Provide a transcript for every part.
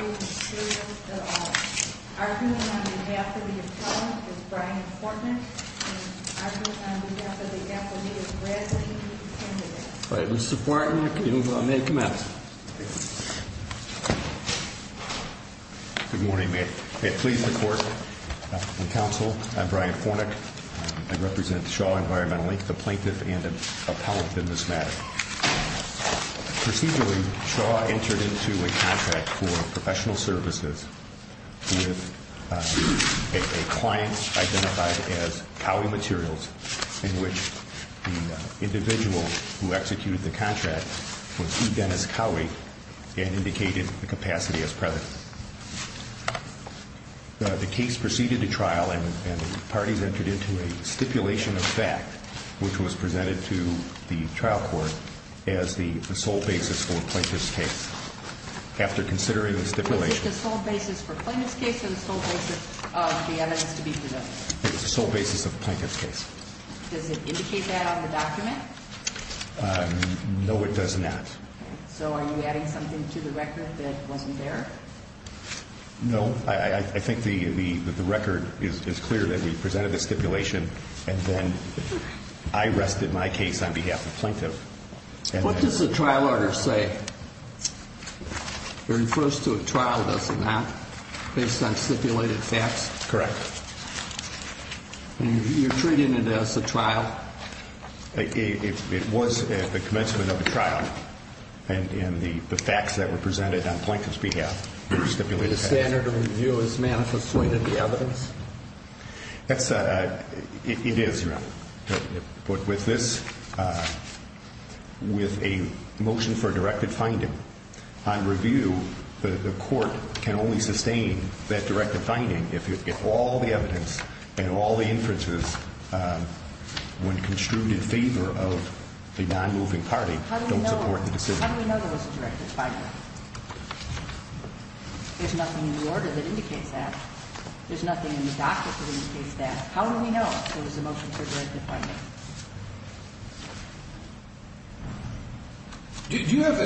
is serious at all. Arguing on behalf of the Attorney is Brian Kornick and arguing on behalf of the Attorney is Brad Zahidi. Mr. Kornick, you may commence. Good morning. May it please the Court and Counsel. I'm Brian Kornick. I represent Shaw Environmental Inc., the plaintiff and appellate in this matter. Procedurally, Shaw entered into a contract for professional services with a client identified as Cowhey Materials in which the individual who executed the contract was Dennis Cowhey and indicated the capacity as president. The case proceeded to trial and the parties entered into a stipulation of fact which was presented to the trial court as the sole basis for the plaintiff's case. After considering the stipulation... Was it the sole basis for the plaintiff's case or the sole basis of the evidence to be presented? It was the sole basis of the plaintiff's case. Does it indicate that on the document? No, it does not. So are you adding something to the record that wasn't there? No. I think the record is clear that we presented the stipulation and then I rested my case on behalf of the plaintiff. What does the trial order say? It refers to a trial, does it not, based on stipulated facts? Correct. You're treating it as a trial? It was at the commencement of the trial and the facts that were presented on the plaintiff's behalf were stipulated facts. Is the standard of review as manifested in the evidence? It is, Your Honor. But with this, with a motion for directed finding on review, the court can only sustain that directed finding if all the evidence and all the inferences, when construed in favor of a nonmoving party, don't support the decision. How do we know there was a directed finding? There's nothing in the order that indicates that. There's nothing in the document that indicates that. How do we know there was a motion for directed finding? Do you have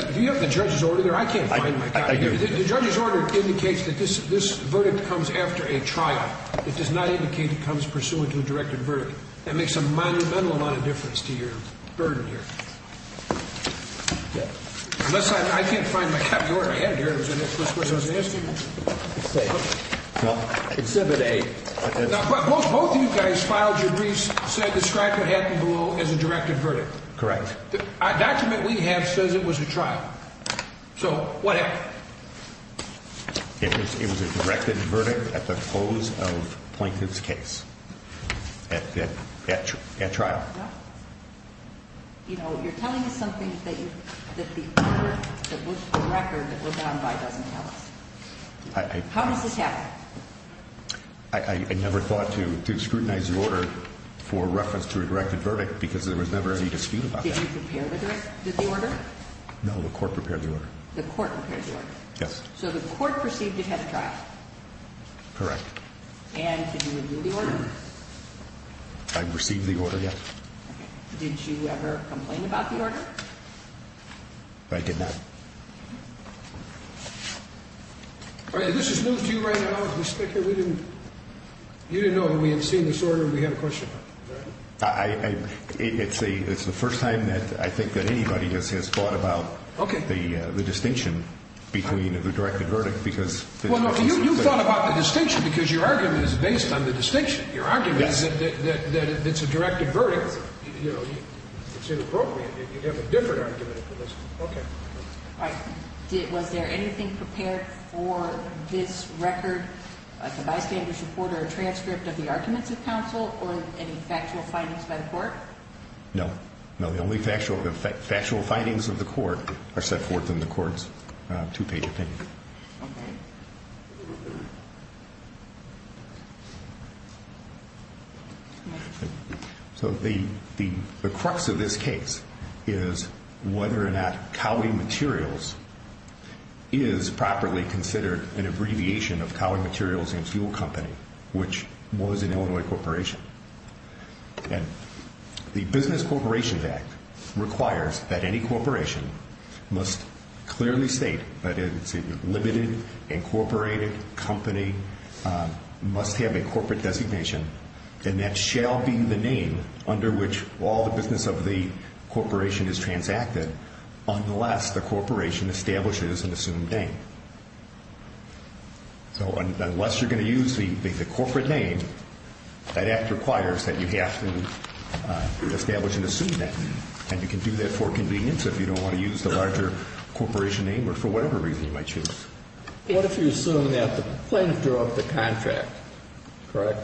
the judge's order there? I can't find my copy. I do. The judge's order indicates that this verdict comes after a trial. It does not indicate it comes pursuant to a directed verdict. That makes a monumental amount of difference to your burden here. Unless I can't find my copy. Both of you guys filed your briefs and said the strike would happen below as a directed verdict. Correct. The document we have says it was a trial. So what happened? It was a directed verdict at the close of the plaintiff's case at trial. You're telling me something that the record that we're bound by doesn't tell us. How does this happen? I never thought to scrutinize the order for reference to a directed verdict because there was never any dispute about that. Did you prepare the order? No, the court prepared the order. The court prepared the order? Yes. So the court perceived it had a trial? Correct. And did you review the order? I received the order, yes. Did you ever complain about the order? I did not. This is news to you right now? You didn't know that we had seen this order and we had a question about it? It's the first time that I think that anybody has thought about the distinction between the directed verdict because... You thought about the distinction because your argument is based on the distinction. Your argument... You have a different argument for this. Okay. All right. Was there anything prepared for this record, the bystander's report or transcript of the arguments of counsel or any factual findings by the court? No. No, the only factual findings of the court are set forth in the court's two-page opinion. Okay. So the crux of this case is whether or not Cowley Materials is properly considered an abbreviation of Cowley Materials and Fuel Company, which was an Illinois corporation. And the Business Corporations Act requires that any corporation must clearly state that it's a limited incorporated company, must have a corporate designation, and that shall be the name under which all the business of the corporation is transacted unless the corporation establishes an assumed name. So unless you're going to use the corporate name, that act requires that you have to establish an assumed name. And you can do that for convenience if you don't want to use the larger corporation name or for whatever reason you might choose. What if you assume that the plaintiff drew up the contract, correct?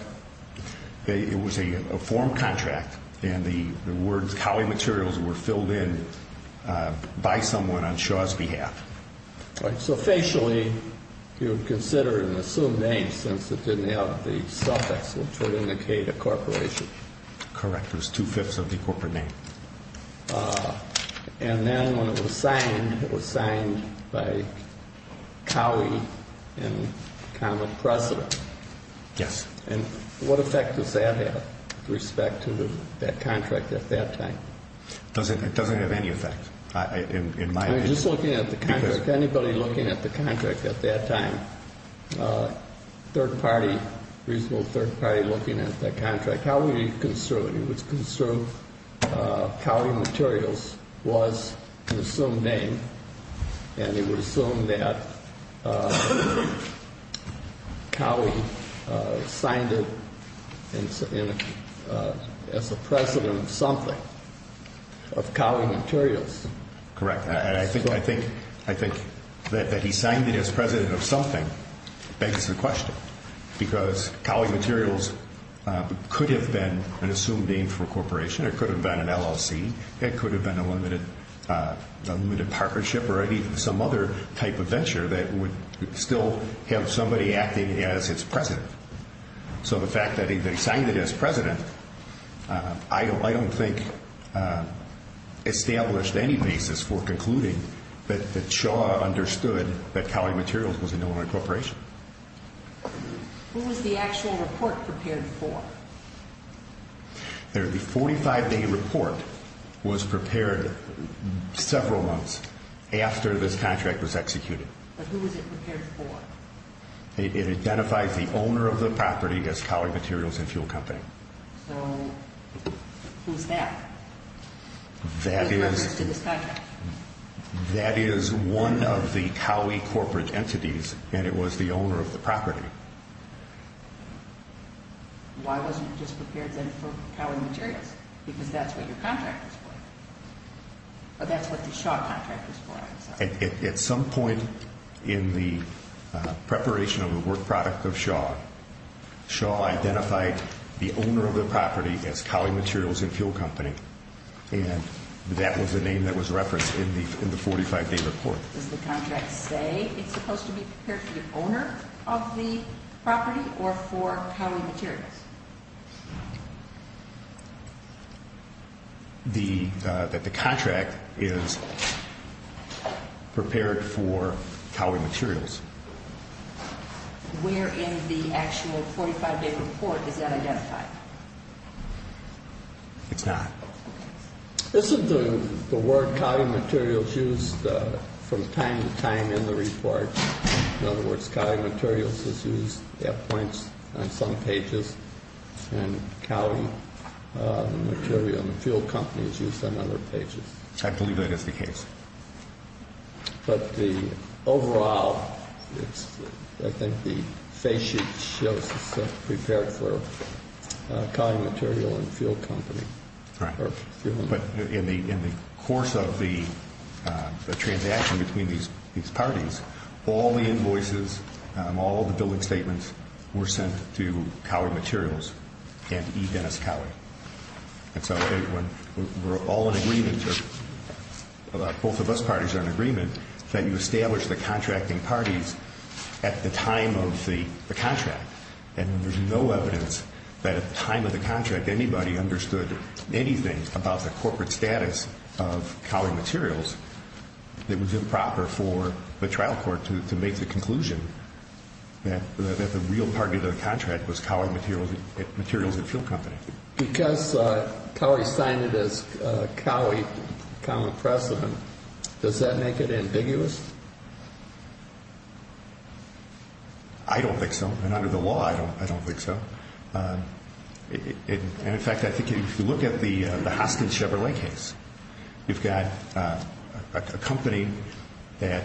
It was a form contract, and the words Cowley Materials were filled in by someone on Shaw's behalf. All right. So facially, you would consider it an assumed name since it didn't have the suffix which would indicate a corporation. Correct. It was two-fifths of the corporate name. And then when it was signed, it was signed by Cowley in common precedent. Yes. And what effect does that have with respect to that contract at that time? It doesn't have any effect in my opinion. Just looking at the contract, anybody looking at the contract at that time, third party, reasonable third party concern, it would concern Cowley Materials was an assumed name, and it would assume that Cowley signed it as a precedent of something, of Cowley Materials. Correct. And I think that he signed it as president of something begs the question, because Cowley Materials could have been an assumed name for a corporation. It could have been an LLC. It could have been a limited partnership or some other type of venture that would still have somebody acting as its president. So the fact that he signed it as president, I don't think established any basis for concluding that Shaw understood that Cowley Materials was an Illinois corporation. Who was the actual report prepared for? The 45-day report was prepared several months after this contract was executed. But who was it prepared for? It identifies the owner of the property as Cowley Materials and Fuel Company. So who's that? That is one of the Why wasn't it just prepared then for Cowley Materials? Because that's what your contract was for. That's what the Shaw contract was for, I'm sorry. At some point in the preparation of the work product of Shaw, Shaw identified the owner of the property as Cowley Materials and Fuel Company, and that was the name that was referenced in the 45-day report. Does the contract say it's supposed to be prepared for the owner of the property or for Cowley Materials? That the contract is prepared for Cowley Materials. Where in the actual 45-day report is that identified? It's not. Isn't the word Cowley Materials used from time to time in the report? In other words, Cowley Materials is used at points on some pages and Cowley Materials and Fuel Company is used on other pages. I believe that is the case. But the overall, I think the phase sheet shows that it's prepared for Cowley Materials and Fuel Company. Right. But in the course of the transaction between these parties, all the invoices, all the billing statements were sent to Cowley Materials and E. Dennis Cowley. And so we're all in agreement, both of us parties are in agreement, that you establish the contracting parties at the time of the contract. And there's no evidence that at the time of the contract anybody understood anything about the corporate status of Cowley Materials that was improper for the trial court to make the conclusion that the real target of the contract was Cowley Materials and Fuel Company. Because Cowley signed it as Cowley Common Precedent, does that make it ambiguous? I don't think so. And under the law, I don't think so. And in fact, I think if you look at the Hostin Chevrolet case, you've got a company that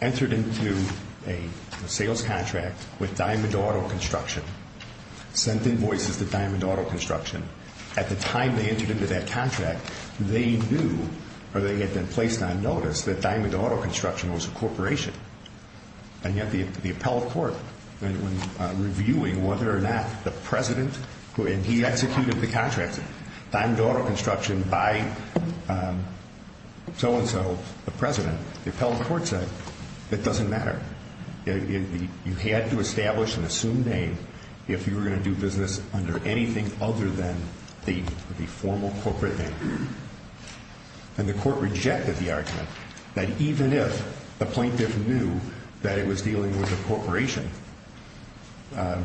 entered into a sales contract with Diamond Auto Construction, sent invoices to Diamond Auto Construction. At the time they entered into that contract, they knew, or they had been placed on notice, that Diamond Auto Construction was a corporation. And yet the appellate court, when reviewing whether or not the president, and he executed the contract, Diamond Auto Construction by so-and-so, the president, the appellate court said, it doesn't matter. You had to establish an assumed name if you were going to do business under anything other than the formal corporate name. And the court rejected the argument that even if the plaintiff knew that it was dealing with a corporation, that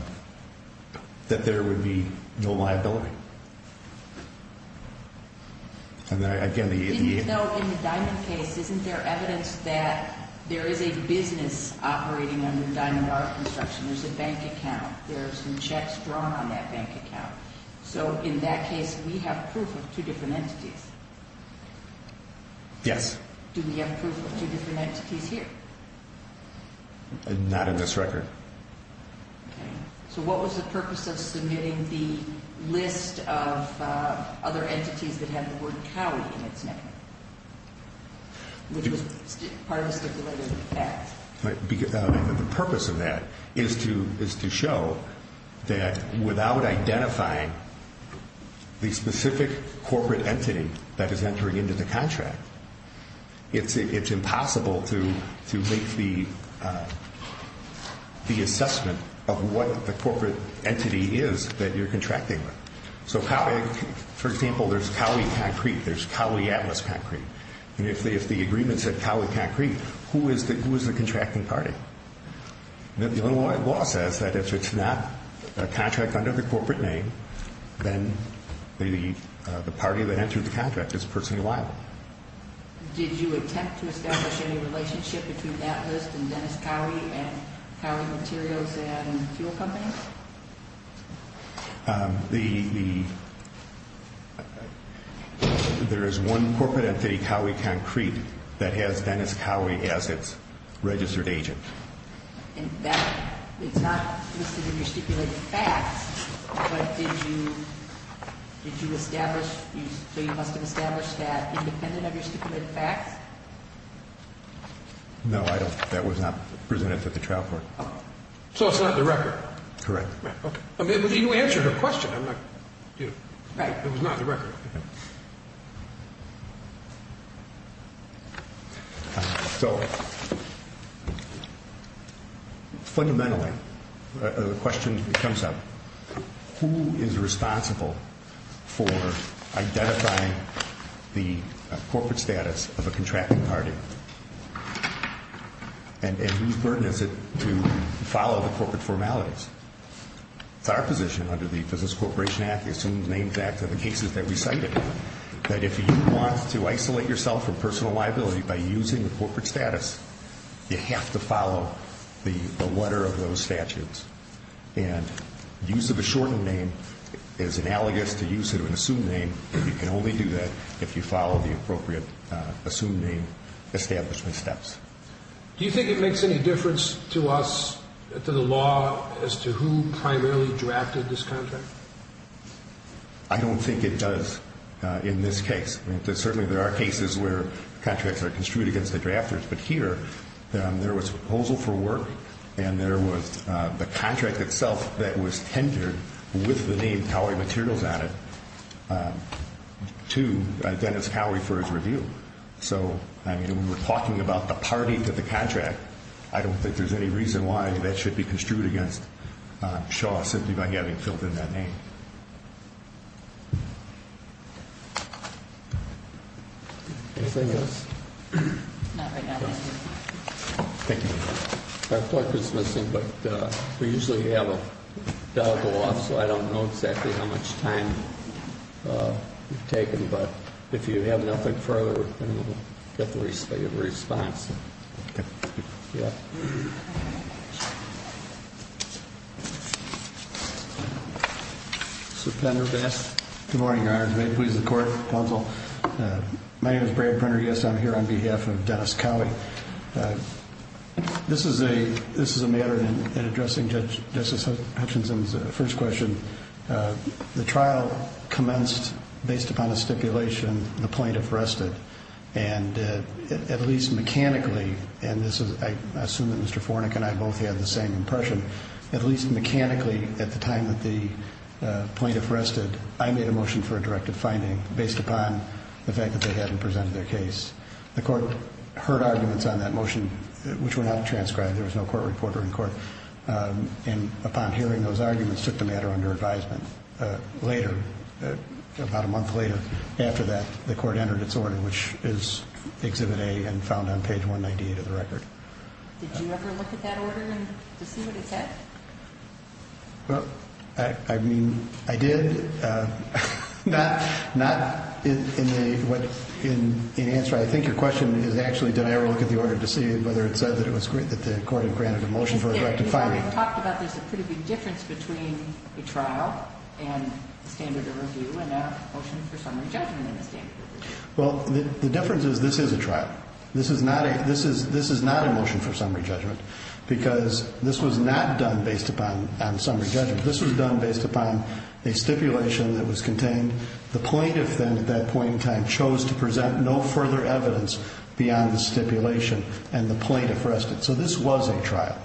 there would be no liability. And again, the... Didn't you know in the Diamond case, isn't there evidence that there is a business operating under Diamond Auto Construction? There's a bank account. There are some checks drawn on that bank account. So in that case, we have proof of two different entities. Yes. Do we have proof of two different entities here? Not in this record. Okay. So what was the purpose of submitting the list of other entities that have the word Cowley in its name? Which was part of the stipulated act. The purpose of that is to show that without identifying the specific corporate entity that is entering into the contract, it's impossible to make the assessment of what the corporate entity is that you're contracting with. So for example, there's Cowley Concrete. There's Cowley Atlas Concrete. And if the agreement said Cowley Concrete, who is the contracting party? The law says that if it's not a contract under the corporate name, then the party that entered the contract is personally liable. Did you attempt to establish any relationship between Atlas and Dennis Cowley and Cowley Materials and fuel companies? The... There is one corporate entity, Cowley Concrete, that has Dennis Cowley as its Did you establish... So you must have established that independent of your stipulated facts? No, I don't... That was not presented to the trial court. So it's not in the record? Correct. Okay. I mean, you answered her question. I'm not... Right. It was not in the record. So fundamentally, the question that comes up, who is responsible for identifying the corporate status of a contracting party? And whose burden is it to follow the corporate formalities? It's our position under the Business Corporation Act, the Assumed Names Act, that in cases that we cited, that if you want to isolate yourself from personal liability by using the corporate status, you have to follow the letter of those statutes. And use of a shortened name is analogous to use of an assumed name. You can only do that if you follow the appropriate assumed name establishment steps. Do you think it makes any difference to us, to the law, as to who primarily drafted this contract? I don't think it does in this case. I mean, certainly there are cases where contracts are construed against the drafters. But here, there was a proposal for work, and there was the contract itself that was tendered with the name Cowley Materials on it to Dennis Cowley for his review. So, I mean, when we're talking about the parties of the contract, I don't think there's any reason why that should be construed against Shaw simply by having filled in that name. Anything else? Not right now. Thank you. Our clock was missing, but we usually have a bell go off, so I don't know exactly how much time you've taken. But if you have nothing further, then we'll get the response. Okay. Yeah. Mr. Prendergast. Good morning, Your Honors. May it please the Court, Counsel. My name is Brad Prendergast. I'm here on behalf of Dennis Cowley. This is a matter in addressing Justice Hutchinson's first question. The trial commenced based upon a stipulation, the plaintiff rested. And at least mechanically, and I assume that Mr. Fornik and I both had the same impression, at least mechanically at the time that the plaintiff rested, I made a motion for a directive finding based upon the fact that they hadn't presented their case. The Court heard arguments on that motion, which were not transcribed. There was no court reporter in court. And upon hearing those arguments, took the matter under advisement. Later, about a month later, after that, the Court entered its order, which is Exhibit A and found on page 198 of the record. Did you ever look at that order to see what it said? Well, I mean, I did. Not in answer. I think your question is actually did I ever look at the order to see whether it said that the Court had granted a motion for a directive finding. You talked about there's a pretty big difference between a trial and a standard of review and a motion for summary judgment in a standard of review. Well, the difference is this is a trial. This is not a motion for summary judgment because this was not done based upon summary judgment. This was done based upon a stipulation that was contained. The plaintiff then, at that point in time, chose to present no further evidence beyond the stipulation and the plaintiff rested. So this was a trial.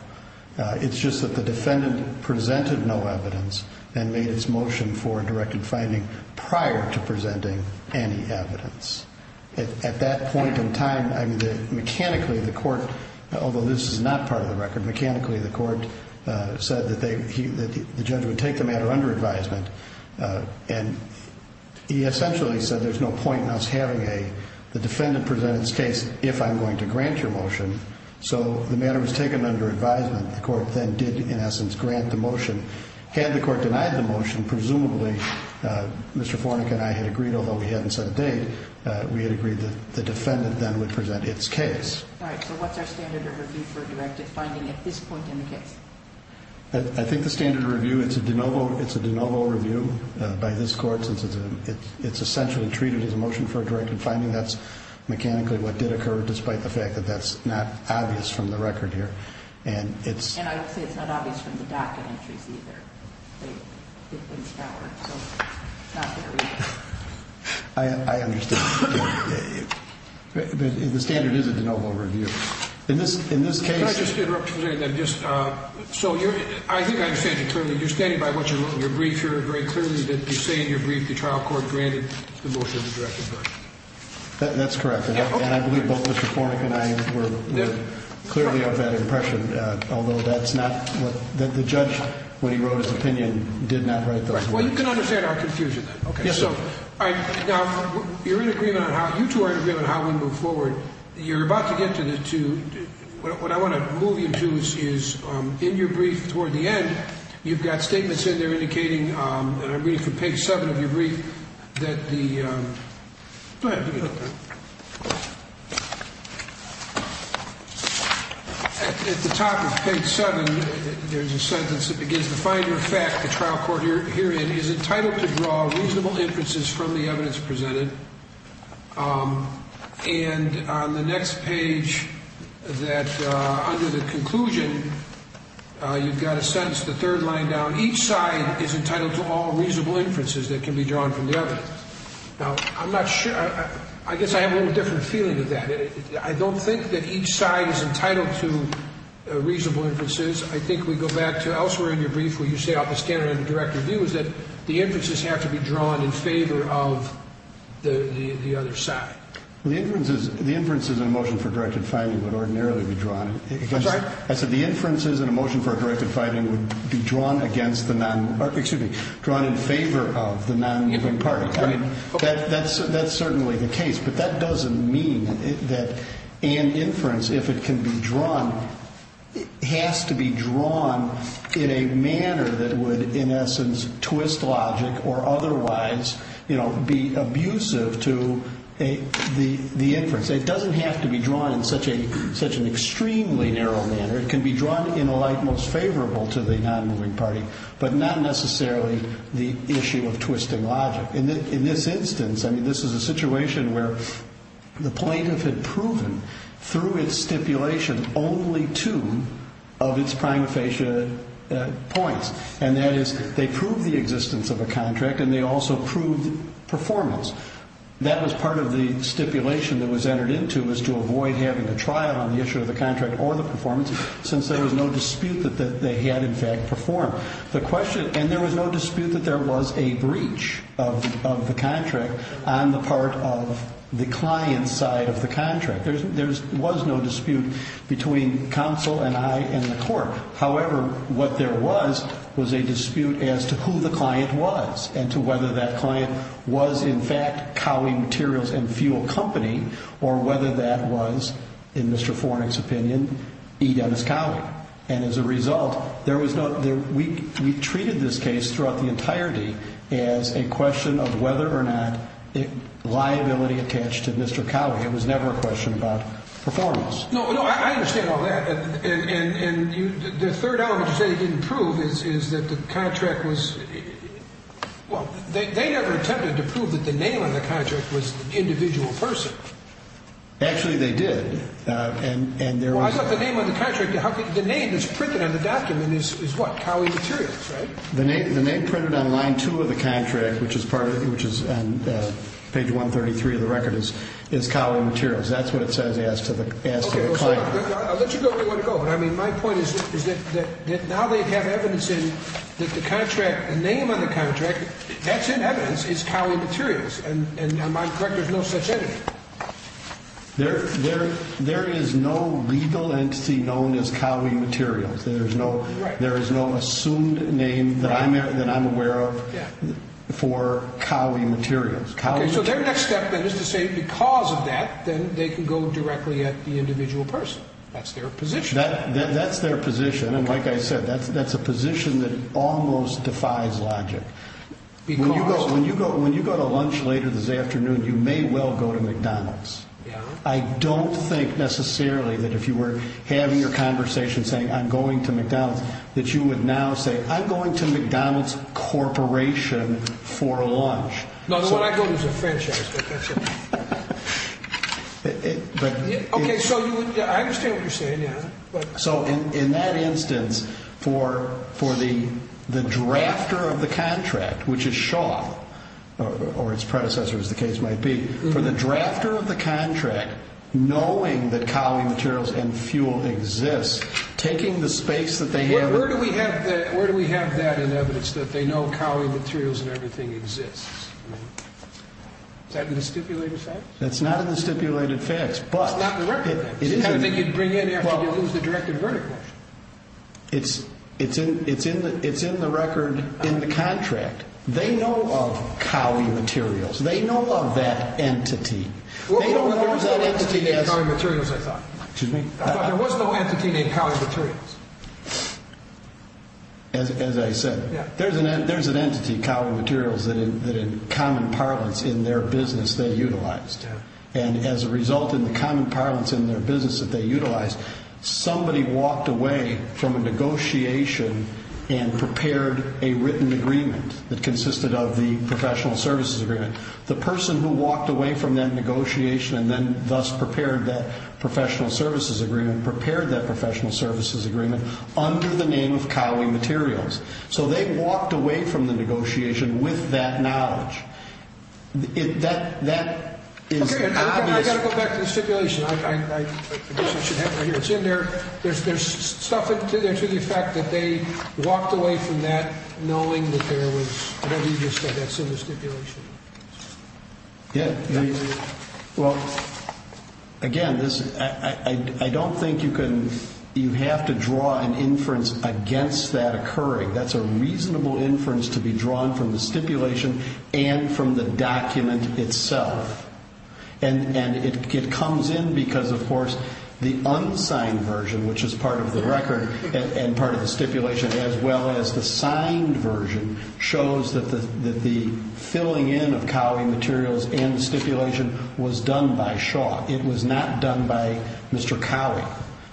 It's just that the defendant presented no evidence and made his motion for a directive finding prior to presenting any evidence. At that point in time, I mean, mechanically the Court, although this is not part of the record, mechanically the Court said that the judge would take the matter under advisement. And he essentially said there's no point in us having the defendant present its case if I'm going to grant your motion. So the matter was taken under advisement. The Court then did, in essence, grant the motion. Had the Court denied the motion, presumably Mr. Fornik and I had agreed, although we hadn't set a date, we had agreed that the defendant then would present its case. All right. So what's our standard of review for directive finding at this point in the case? I think the standard of review, it's a de novo review by this Court since it's essentially treated as a motion for a directive finding. That's mechanically what did occur, despite the fact that that's not obvious from the record here. And I would say it's not obvious from the docket entries either. It's not there either. I understand. The standard is a de novo review. In this case... So I think I understand you clearly. You're standing by what you wrote in your brief. You're very clear that you say in your brief the trial court granted the motion for directive finding. That's correct. And I believe both Mr. Fornik and I were clearly of that impression, although that's not what the judge, when he wrote his opinion, did not write the motion. Well, you can understand our confusion then. Yes, sir. Now, you two are in agreement on how we move forward. You're about to get to what I want to move you to is in your brief toward the end, you've got statements in there indicating, and I'm reading from page 7 of your brief, that the... Go ahead. At the top of page 7, there's a sentence that begins, The finder of fact, the trial court herein is entitled to draw reasonable inferences from the evidence presented. And on the next page that, under the conclusion, you've got a sentence, the third line down, each side is entitled to all reasonable inferences that can be drawn from the evidence. Now, I'm not sure... I guess I have a little different feeling of that. I don't think that each side is entitled to reasonable inferences. I think we go back to elsewhere in your brief where you say, is that the inferences have to be drawn in favor of the other side. The inferences in a motion for directed fighting would ordinarily be drawn against... I'm sorry? I said the inferences in a motion for directed fighting would be drawn against the non... or, excuse me, drawn in favor of the non-infering party. Right. That's certainly the case, but that doesn't mean that an inference, if it can be drawn, has to be drawn in a manner that would, in essence, twist logic or otherwise be abusive to the inference. It doesn't have to be drawn in such an extremely narrow manner. It can be drawn in a light most favorable to the non-moving party, but not necessarily the issue of twisting logic. In this instance, I mean, this is a situation where the plaintiff had proven, through its stipulation, only two of its prima facie points, and that is they proved the existence of a contract and they also proved performance. That was part of the stipulation that was entered into was to avoid having a trial on the issue of the contract or the performance since there was no dispute that they had, in fact, performed. And there was no dispute that there was a breach of the contract on the part of the client's side of the contract. There was no dispute between counsel and I and the court. However, what there was was a dispute as to who the client was and to whether that client was, in fact, Cowey Materials and Fuel Company or whether that was, in Mr. Fornik's opinion, E. Dennis Cowey. And as a result, we treated this case throughout the entirety as a question of whether or not liability attached to Mr. Cowey. It was never a question about performance. No, no, I understand all that. And the third element you say they didn't prove is that the contract was, well, they never attempted to prove that the name on the contract was the individual person. Actually, they did. I thought the name on the contract, the name that's printed on the document is what? Cowey Materials, right? The name printed on line two of the contract, which is on page 133 of the record, is Cowey Materials. That's what it says as to the client. I'll let you go where you want to go, but, I mean, my point is that now they have evidence that the name on the contract that's in evidence is Cowey Materials, and on my record there's no such entity. There is no legal entity known as Cowey Materials. There is no assumed name that I'm aware of for Cowey Materials. Okay, so their next step then is to say because of that, then they can go directly at the individual person. That's their position. That's their position, and like I said, that's a position that almost defies logic. Because? When you go to lunch later this afternoon, you may well go to McDonald's. I don't think necessarily that if you were having your conversation saying, I'm going to McDonald's, that you would now say, I'm going to McDonald's Corporation for lunch. No, the one I go to is a franchise. Okay, so I understand what you're saying. So in that instance, for the drafter of the contract, which is Shaw, or its predecessor as the case might be, for the drafter of the contract, knowing that Cowey Materials and fuel exists, taking the space that they have. Where do we have that in evidence that they know Cowey Materials and everything exists? Is that in the stipulated facts? That's not in the stipulated facts. It's not in the record. I didn't think you'd bring in after you lose the direct and verdict motion. It's in the record in the contract. They know of Cowey Materials. They know of that entity. There was no entity named Cowey Materials, I thought. There was no entity named Cowey Materials. As I said, there's an entity, Cowey Materials, that in common parlance in their business they utilized. And as a result in the common parlance in their business that they utilized, somebody walked away from a negotiation and prepared a written agreement that consisted of the professional services agreement. The person who walked away from that negotiation and then thus prepared that professional services agreement, prepared that professional services agreement under the name of Cowey Materials. So they walked away from the negotiation with that knowledge. That is obvious. I've got to go back to the stipulation. It's in there. There's stuff in there to the effect that they walked away from that knowing that there was, whatever you just said, that's in the stipulation. Yeah. Well, again, I don't think you have to draw an inference against that occurring. That's a reasonable inference to be drawn from the stipulation and from the document itself. And it comes in because, of course, the unsigned version, which is part of the record and part of the stipulation, as well as the signed version, shows that the filling in of Cowey Materials and the stipulation was done by Shaw. It was not done by Mr. Cowey.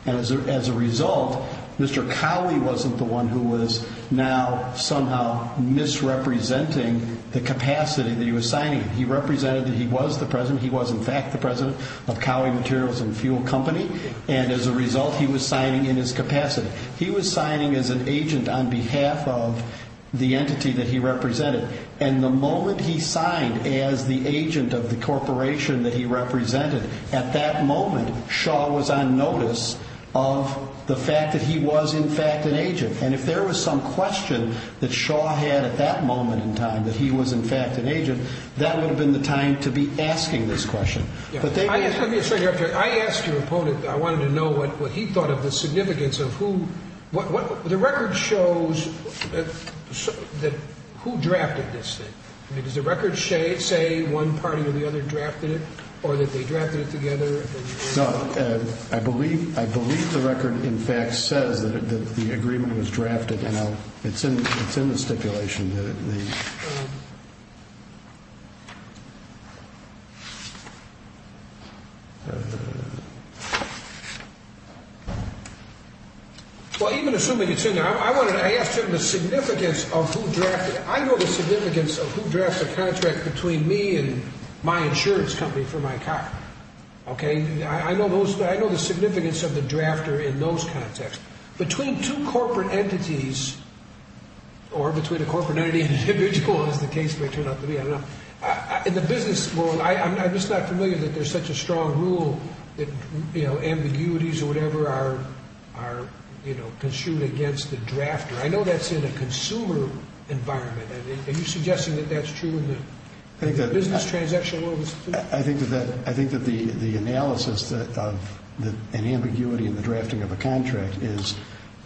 And as a result, Mr. Cowey wasn't the one who was now somehow misrepresenting the capacity that he was signing. He represented that he was the president. He was, in fact, the president of Cowey Materials and Fuel Company. And as a result, he was signing in his capacity. He was signing as an agent on behalf of the entity that he represented. And the moment he signed as the agent of the corporation that he represented, at that moment, Shaw was on notice of the fact that he was, in fact, an agent. And if there was some question that Shaw had at that moment in time, that he was, in fact, an agent, that would have been the time to be asking this question. Let me ask you a question. I asked your opponent. I wanted to know what he thought of the significance of who the record shows that who drafted this thing. Does the record say one party or the other drafted it or that they drafted it together? I believe the record, in fact, says that the agreement was drafted. It's in the stipulation. Well, even assuming it's in there, I asked him the significance of who drafted it. I know the significance of who drafts a contract between me and my insurance company for my car. I know the significance of the drafter in those contexts. Between two corporate entities, or between a corporate entity and an individual, as the case may turn out to be, I don't know, in the business world, I'm just not familiar that there's such a strong rule that, you know, ambiguities or whatever are, you know, construed against the drafter. I know that's in a consumer environment. Are you suggesting that that's true in the business transaction world as well? I think that the analysis of an ambiguity in the drafting of a contract is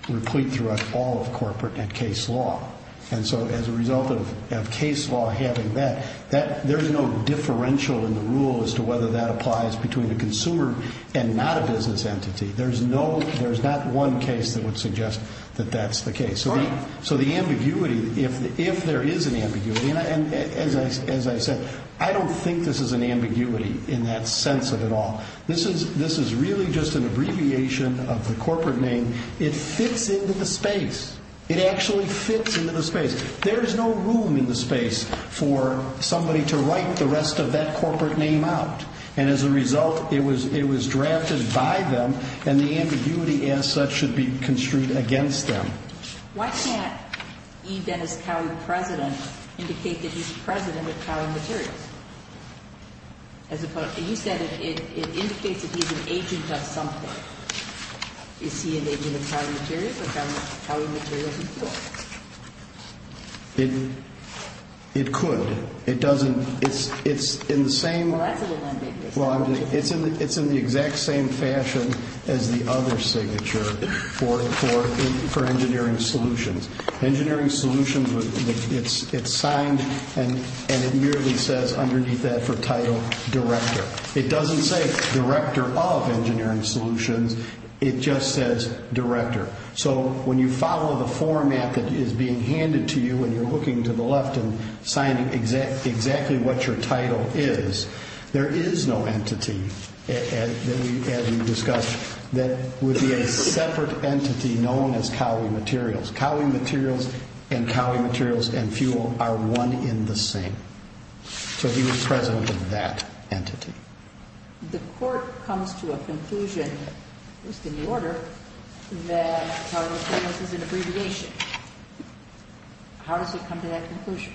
replete throughout all of corporate and case law. And so as a result of case law having that, there's no differential in the rule as to whether that applies between a consumer and not a business entity. There's not one case that would suggest that that's the case. So the ambiguity, if there is an ambiguity, and as I said, I don't think this is an ambiguity in that sense of it all. This is really just an abbreviation of the corporate name. It fits into the space. It actually fits into the space. There is no room in the space for somebody to write the rest of that corporate name out. And as a result, it was drafted by them, and the ambiguity as such should be construed against them. Why can't E. Dennis Cowie, President, indicate that he's President of Cowie Materials? You said it indicates that he's an agent of something. Is he an agent of Cowie Materials or Cowie Materials and Fuel? It could. It doesn't. It's in the same. Well, that's a little ambiguous. It's in the exact same fashion as the other signature for engineering solutions. Engineering solutions, it's signed, and it merely says underneath that for title, director. It doesn't say director of engineering solutions. It just says director. So when you follow the format that is being handed to you and you're looking to the left and signing exactly what your title is, there is no entity, as we discussed, that would be a separate entity known as Cowie Materials. Cowie Materials and Cowie Materials and Fuel are one in the same. So he was President of that entity. The court comes to a conclusion, at least in the order, that Cowie Materials is an abbreviation. How does it come to that conclusion?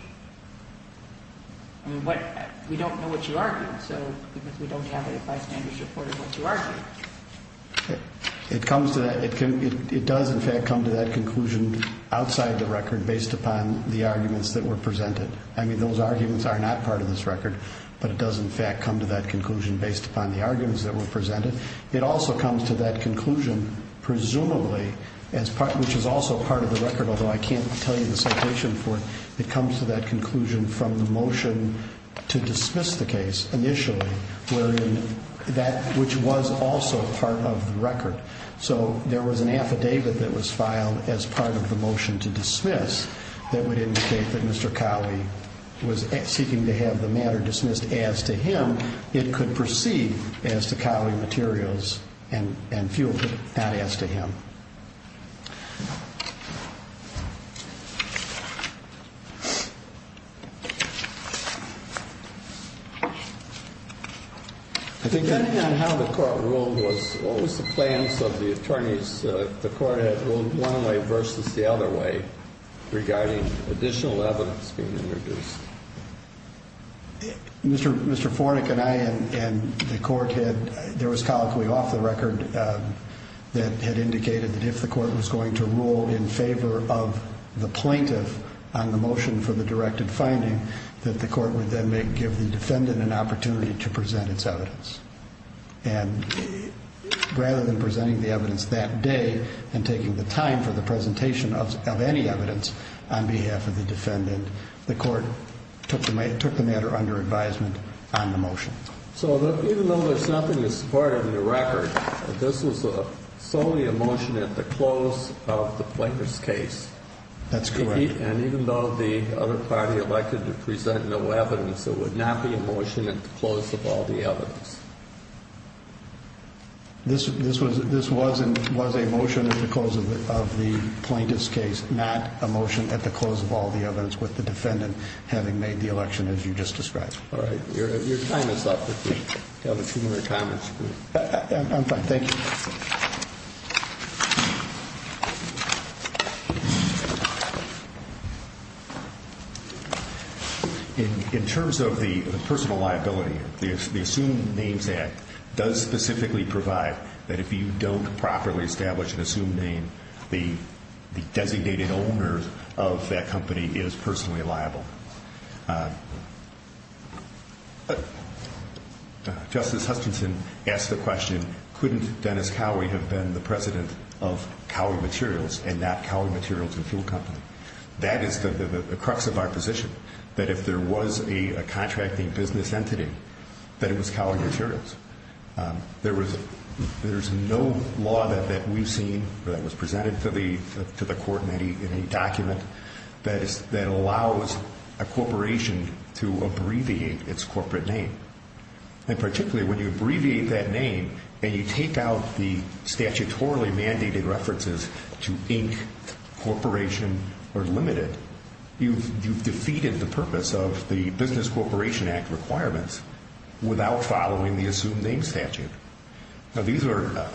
We don't know what you argue, because we don't have a bystander's report of what you argue. It does, in fact, come to that conclusion outside the record based upon the arguments that were presented. I mean, those arguments are not part of this record, but it does, in fact, come to that conclusion based upon the arguments that were presented. It also comes to that conclusion, presumably, which is also part of the record, although I can't tell you the citation for it. It comes to that conclusion from the motion to dismiss the case initially, which was also part of the record. So there was an affidavit that was filed as part of the motion to dismiss that would indicate that Mr. Cowie was seeking to have the matter dismissed as to him. It could proceed as to Cowie Materials and fueled it not as to him. Depending on how the court ruled, what was the plans of the attorneys, if the court had ruled one way versus the other way, regarding additional evidence being introduced? Mr. Fornick and I and the court had, there was colloquy off the record that had indicated that if the court was going to rule in favor of the plaintiff on the motion for the directed finding, that the court would then give the defendant an opportunity to present its evidence. And rather than presenting the evidence that day and taking the time for the presentation of any evidence on behalf of the defendant, the court took the matter under advisement on the motion. So even though there's nothing that's part of the record, this was solely a motion at the close of the plaintiff's case. That's correct. And even though the other party elected to present no evidence, it would not be a motion at the close of all the evidence. This was a motion at the close of the plaintiff's case, not a motion at the close of all the evidence with the defendant having made the election, as you just described. All right. Your time is up. If you have a few more comments, please. I'm fine. Thank you. In terms of the personal liability, the Assumed Names Act does specifically provide that if you don't properly establish an assumed name, the designated owner of that company is personally liable. Justice Hutchinson asked the question, couldn't Dennis Cowie have been the president of Cowie Materials and not Cowie Materials and Fuel Company? That is the crux of our position, that if there was a contracting business entity, that it was Cowie Materials. There is no law that we've seen that was presented to the court in any document that allows a corporation to abbreviate its corporate name. And particularly when you abbreviate that name and you take out the statutorily mandated references to Inc., Corporation, or Limited, you've defeated the purpose of the Business Corporation Act requirements without following the Assumed Names Statute. Now, these are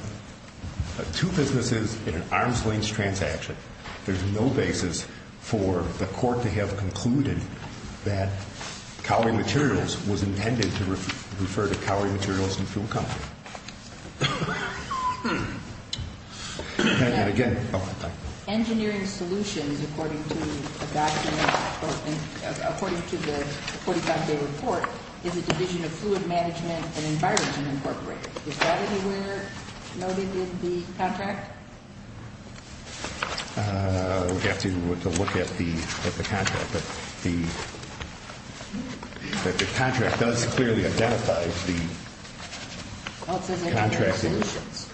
two businesses in an arm's length transaction. There's no basis for the court to have concluded that Cowie Materials was intended to refer to Cowie Materials and Fuel Company. Engineering Solutions, according to the 45-day report, is a division of Fluid Management and Environment Incorporated. Is that anywhere noted in the contract? We'd have to look at the contract. But the contract does clearly identify the... Well, it says Engineering Solutions.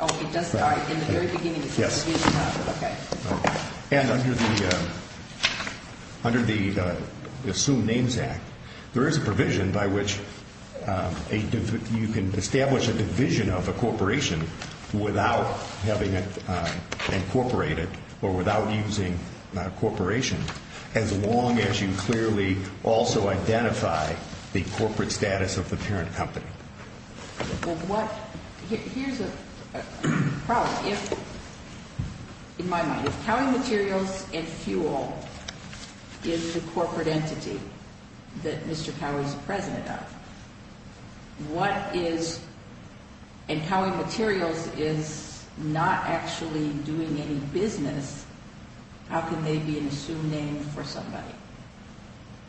Oh, it does? In the very beginning it says Engineering Solutions. And under the Assumed Names Act, there is a provision by which you can establish a division of a corporation without having it incorporated or without using Corporation, as long as you clearly also identify the corporate status of the parent company. Here's a problem. In my mind, if Cowie Materials and Fuel is the corporate entity that Mr. Cowie is the president of, and Cowie Materials is not actually doing any business, how can they be an assumed name for somebody?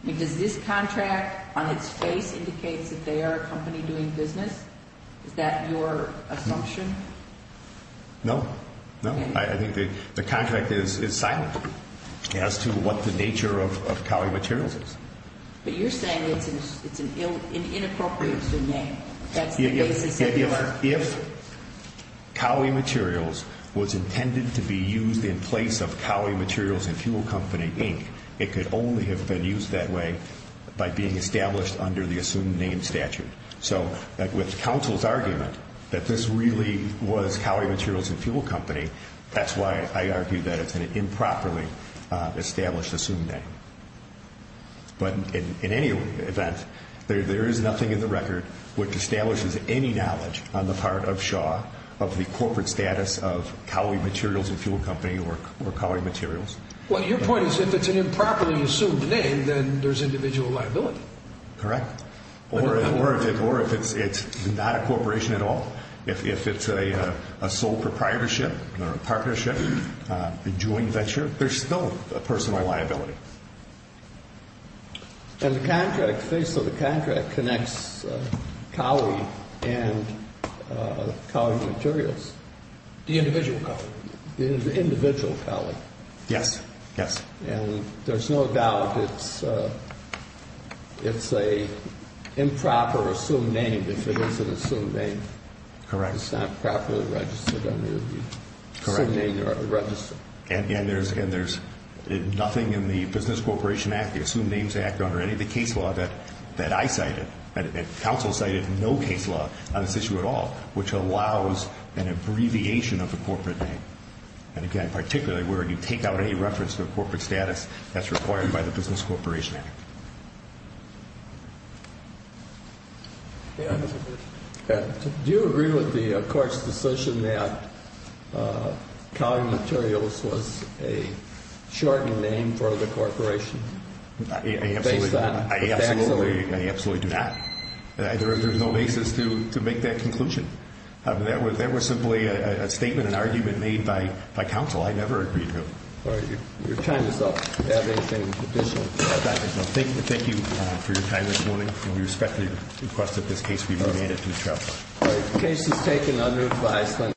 Does this contract on its face indicate that they are a company doing business? Is that your assumption? No. I think the contract is silent as to what the nature of Cowie Materials is. But you're saying it's an inappropriate assumed name. If Cowie Materials was intended to be used in place of Cowie Materials and Fuel Company, Inc., it could only have been used that way by being established under the assumed name statute. So with counsel's argument that this really was Cowie Materials and Fuel Company, that's why I argue that it's an improperly established assumed name. But in any event, there is nothing in the record which establishes any knowledge on the part of Shaw of the corporate status of Cowie Materials and Fuel Company or Cowie Materials. Well, your point is if it's an improperly assumed name, then there's individual liability. Correct. Or if it's not a corporation at all, if it's a sole proprietorship or a partnership, a joint venture, there's still a personal liability. And the contract, the face of the contract connects Cowie and Cowie Materials. The individual Cowie. The individual Cowie. Yes. Yes. And there's no doubt it's an improper assumed name if it is an assumed name. Correct. It's not properly registered under the assumed name you're registering. And there's nothing in the Business Corporation Act, the Assumed Names Act or any of the case law that I cited, and counsel cited no case law on this issue at all, which allows an abbreviation of the corporate name. And, again, particularly where you take out any reference to a corporate status that's required by the Business Corporation Act. Do you agree with the court's decision that Cowie Materials was a shortened name for the corporation? I absolutely do not. There's no basis to make that conclusion. That was simply a statement, an argument made by counsel. I never agreed to it. You're tying yourself to have anything additional. Thank you for your time this morning. We respectfully request that this case be remanded to trial. The case is taken under advisory.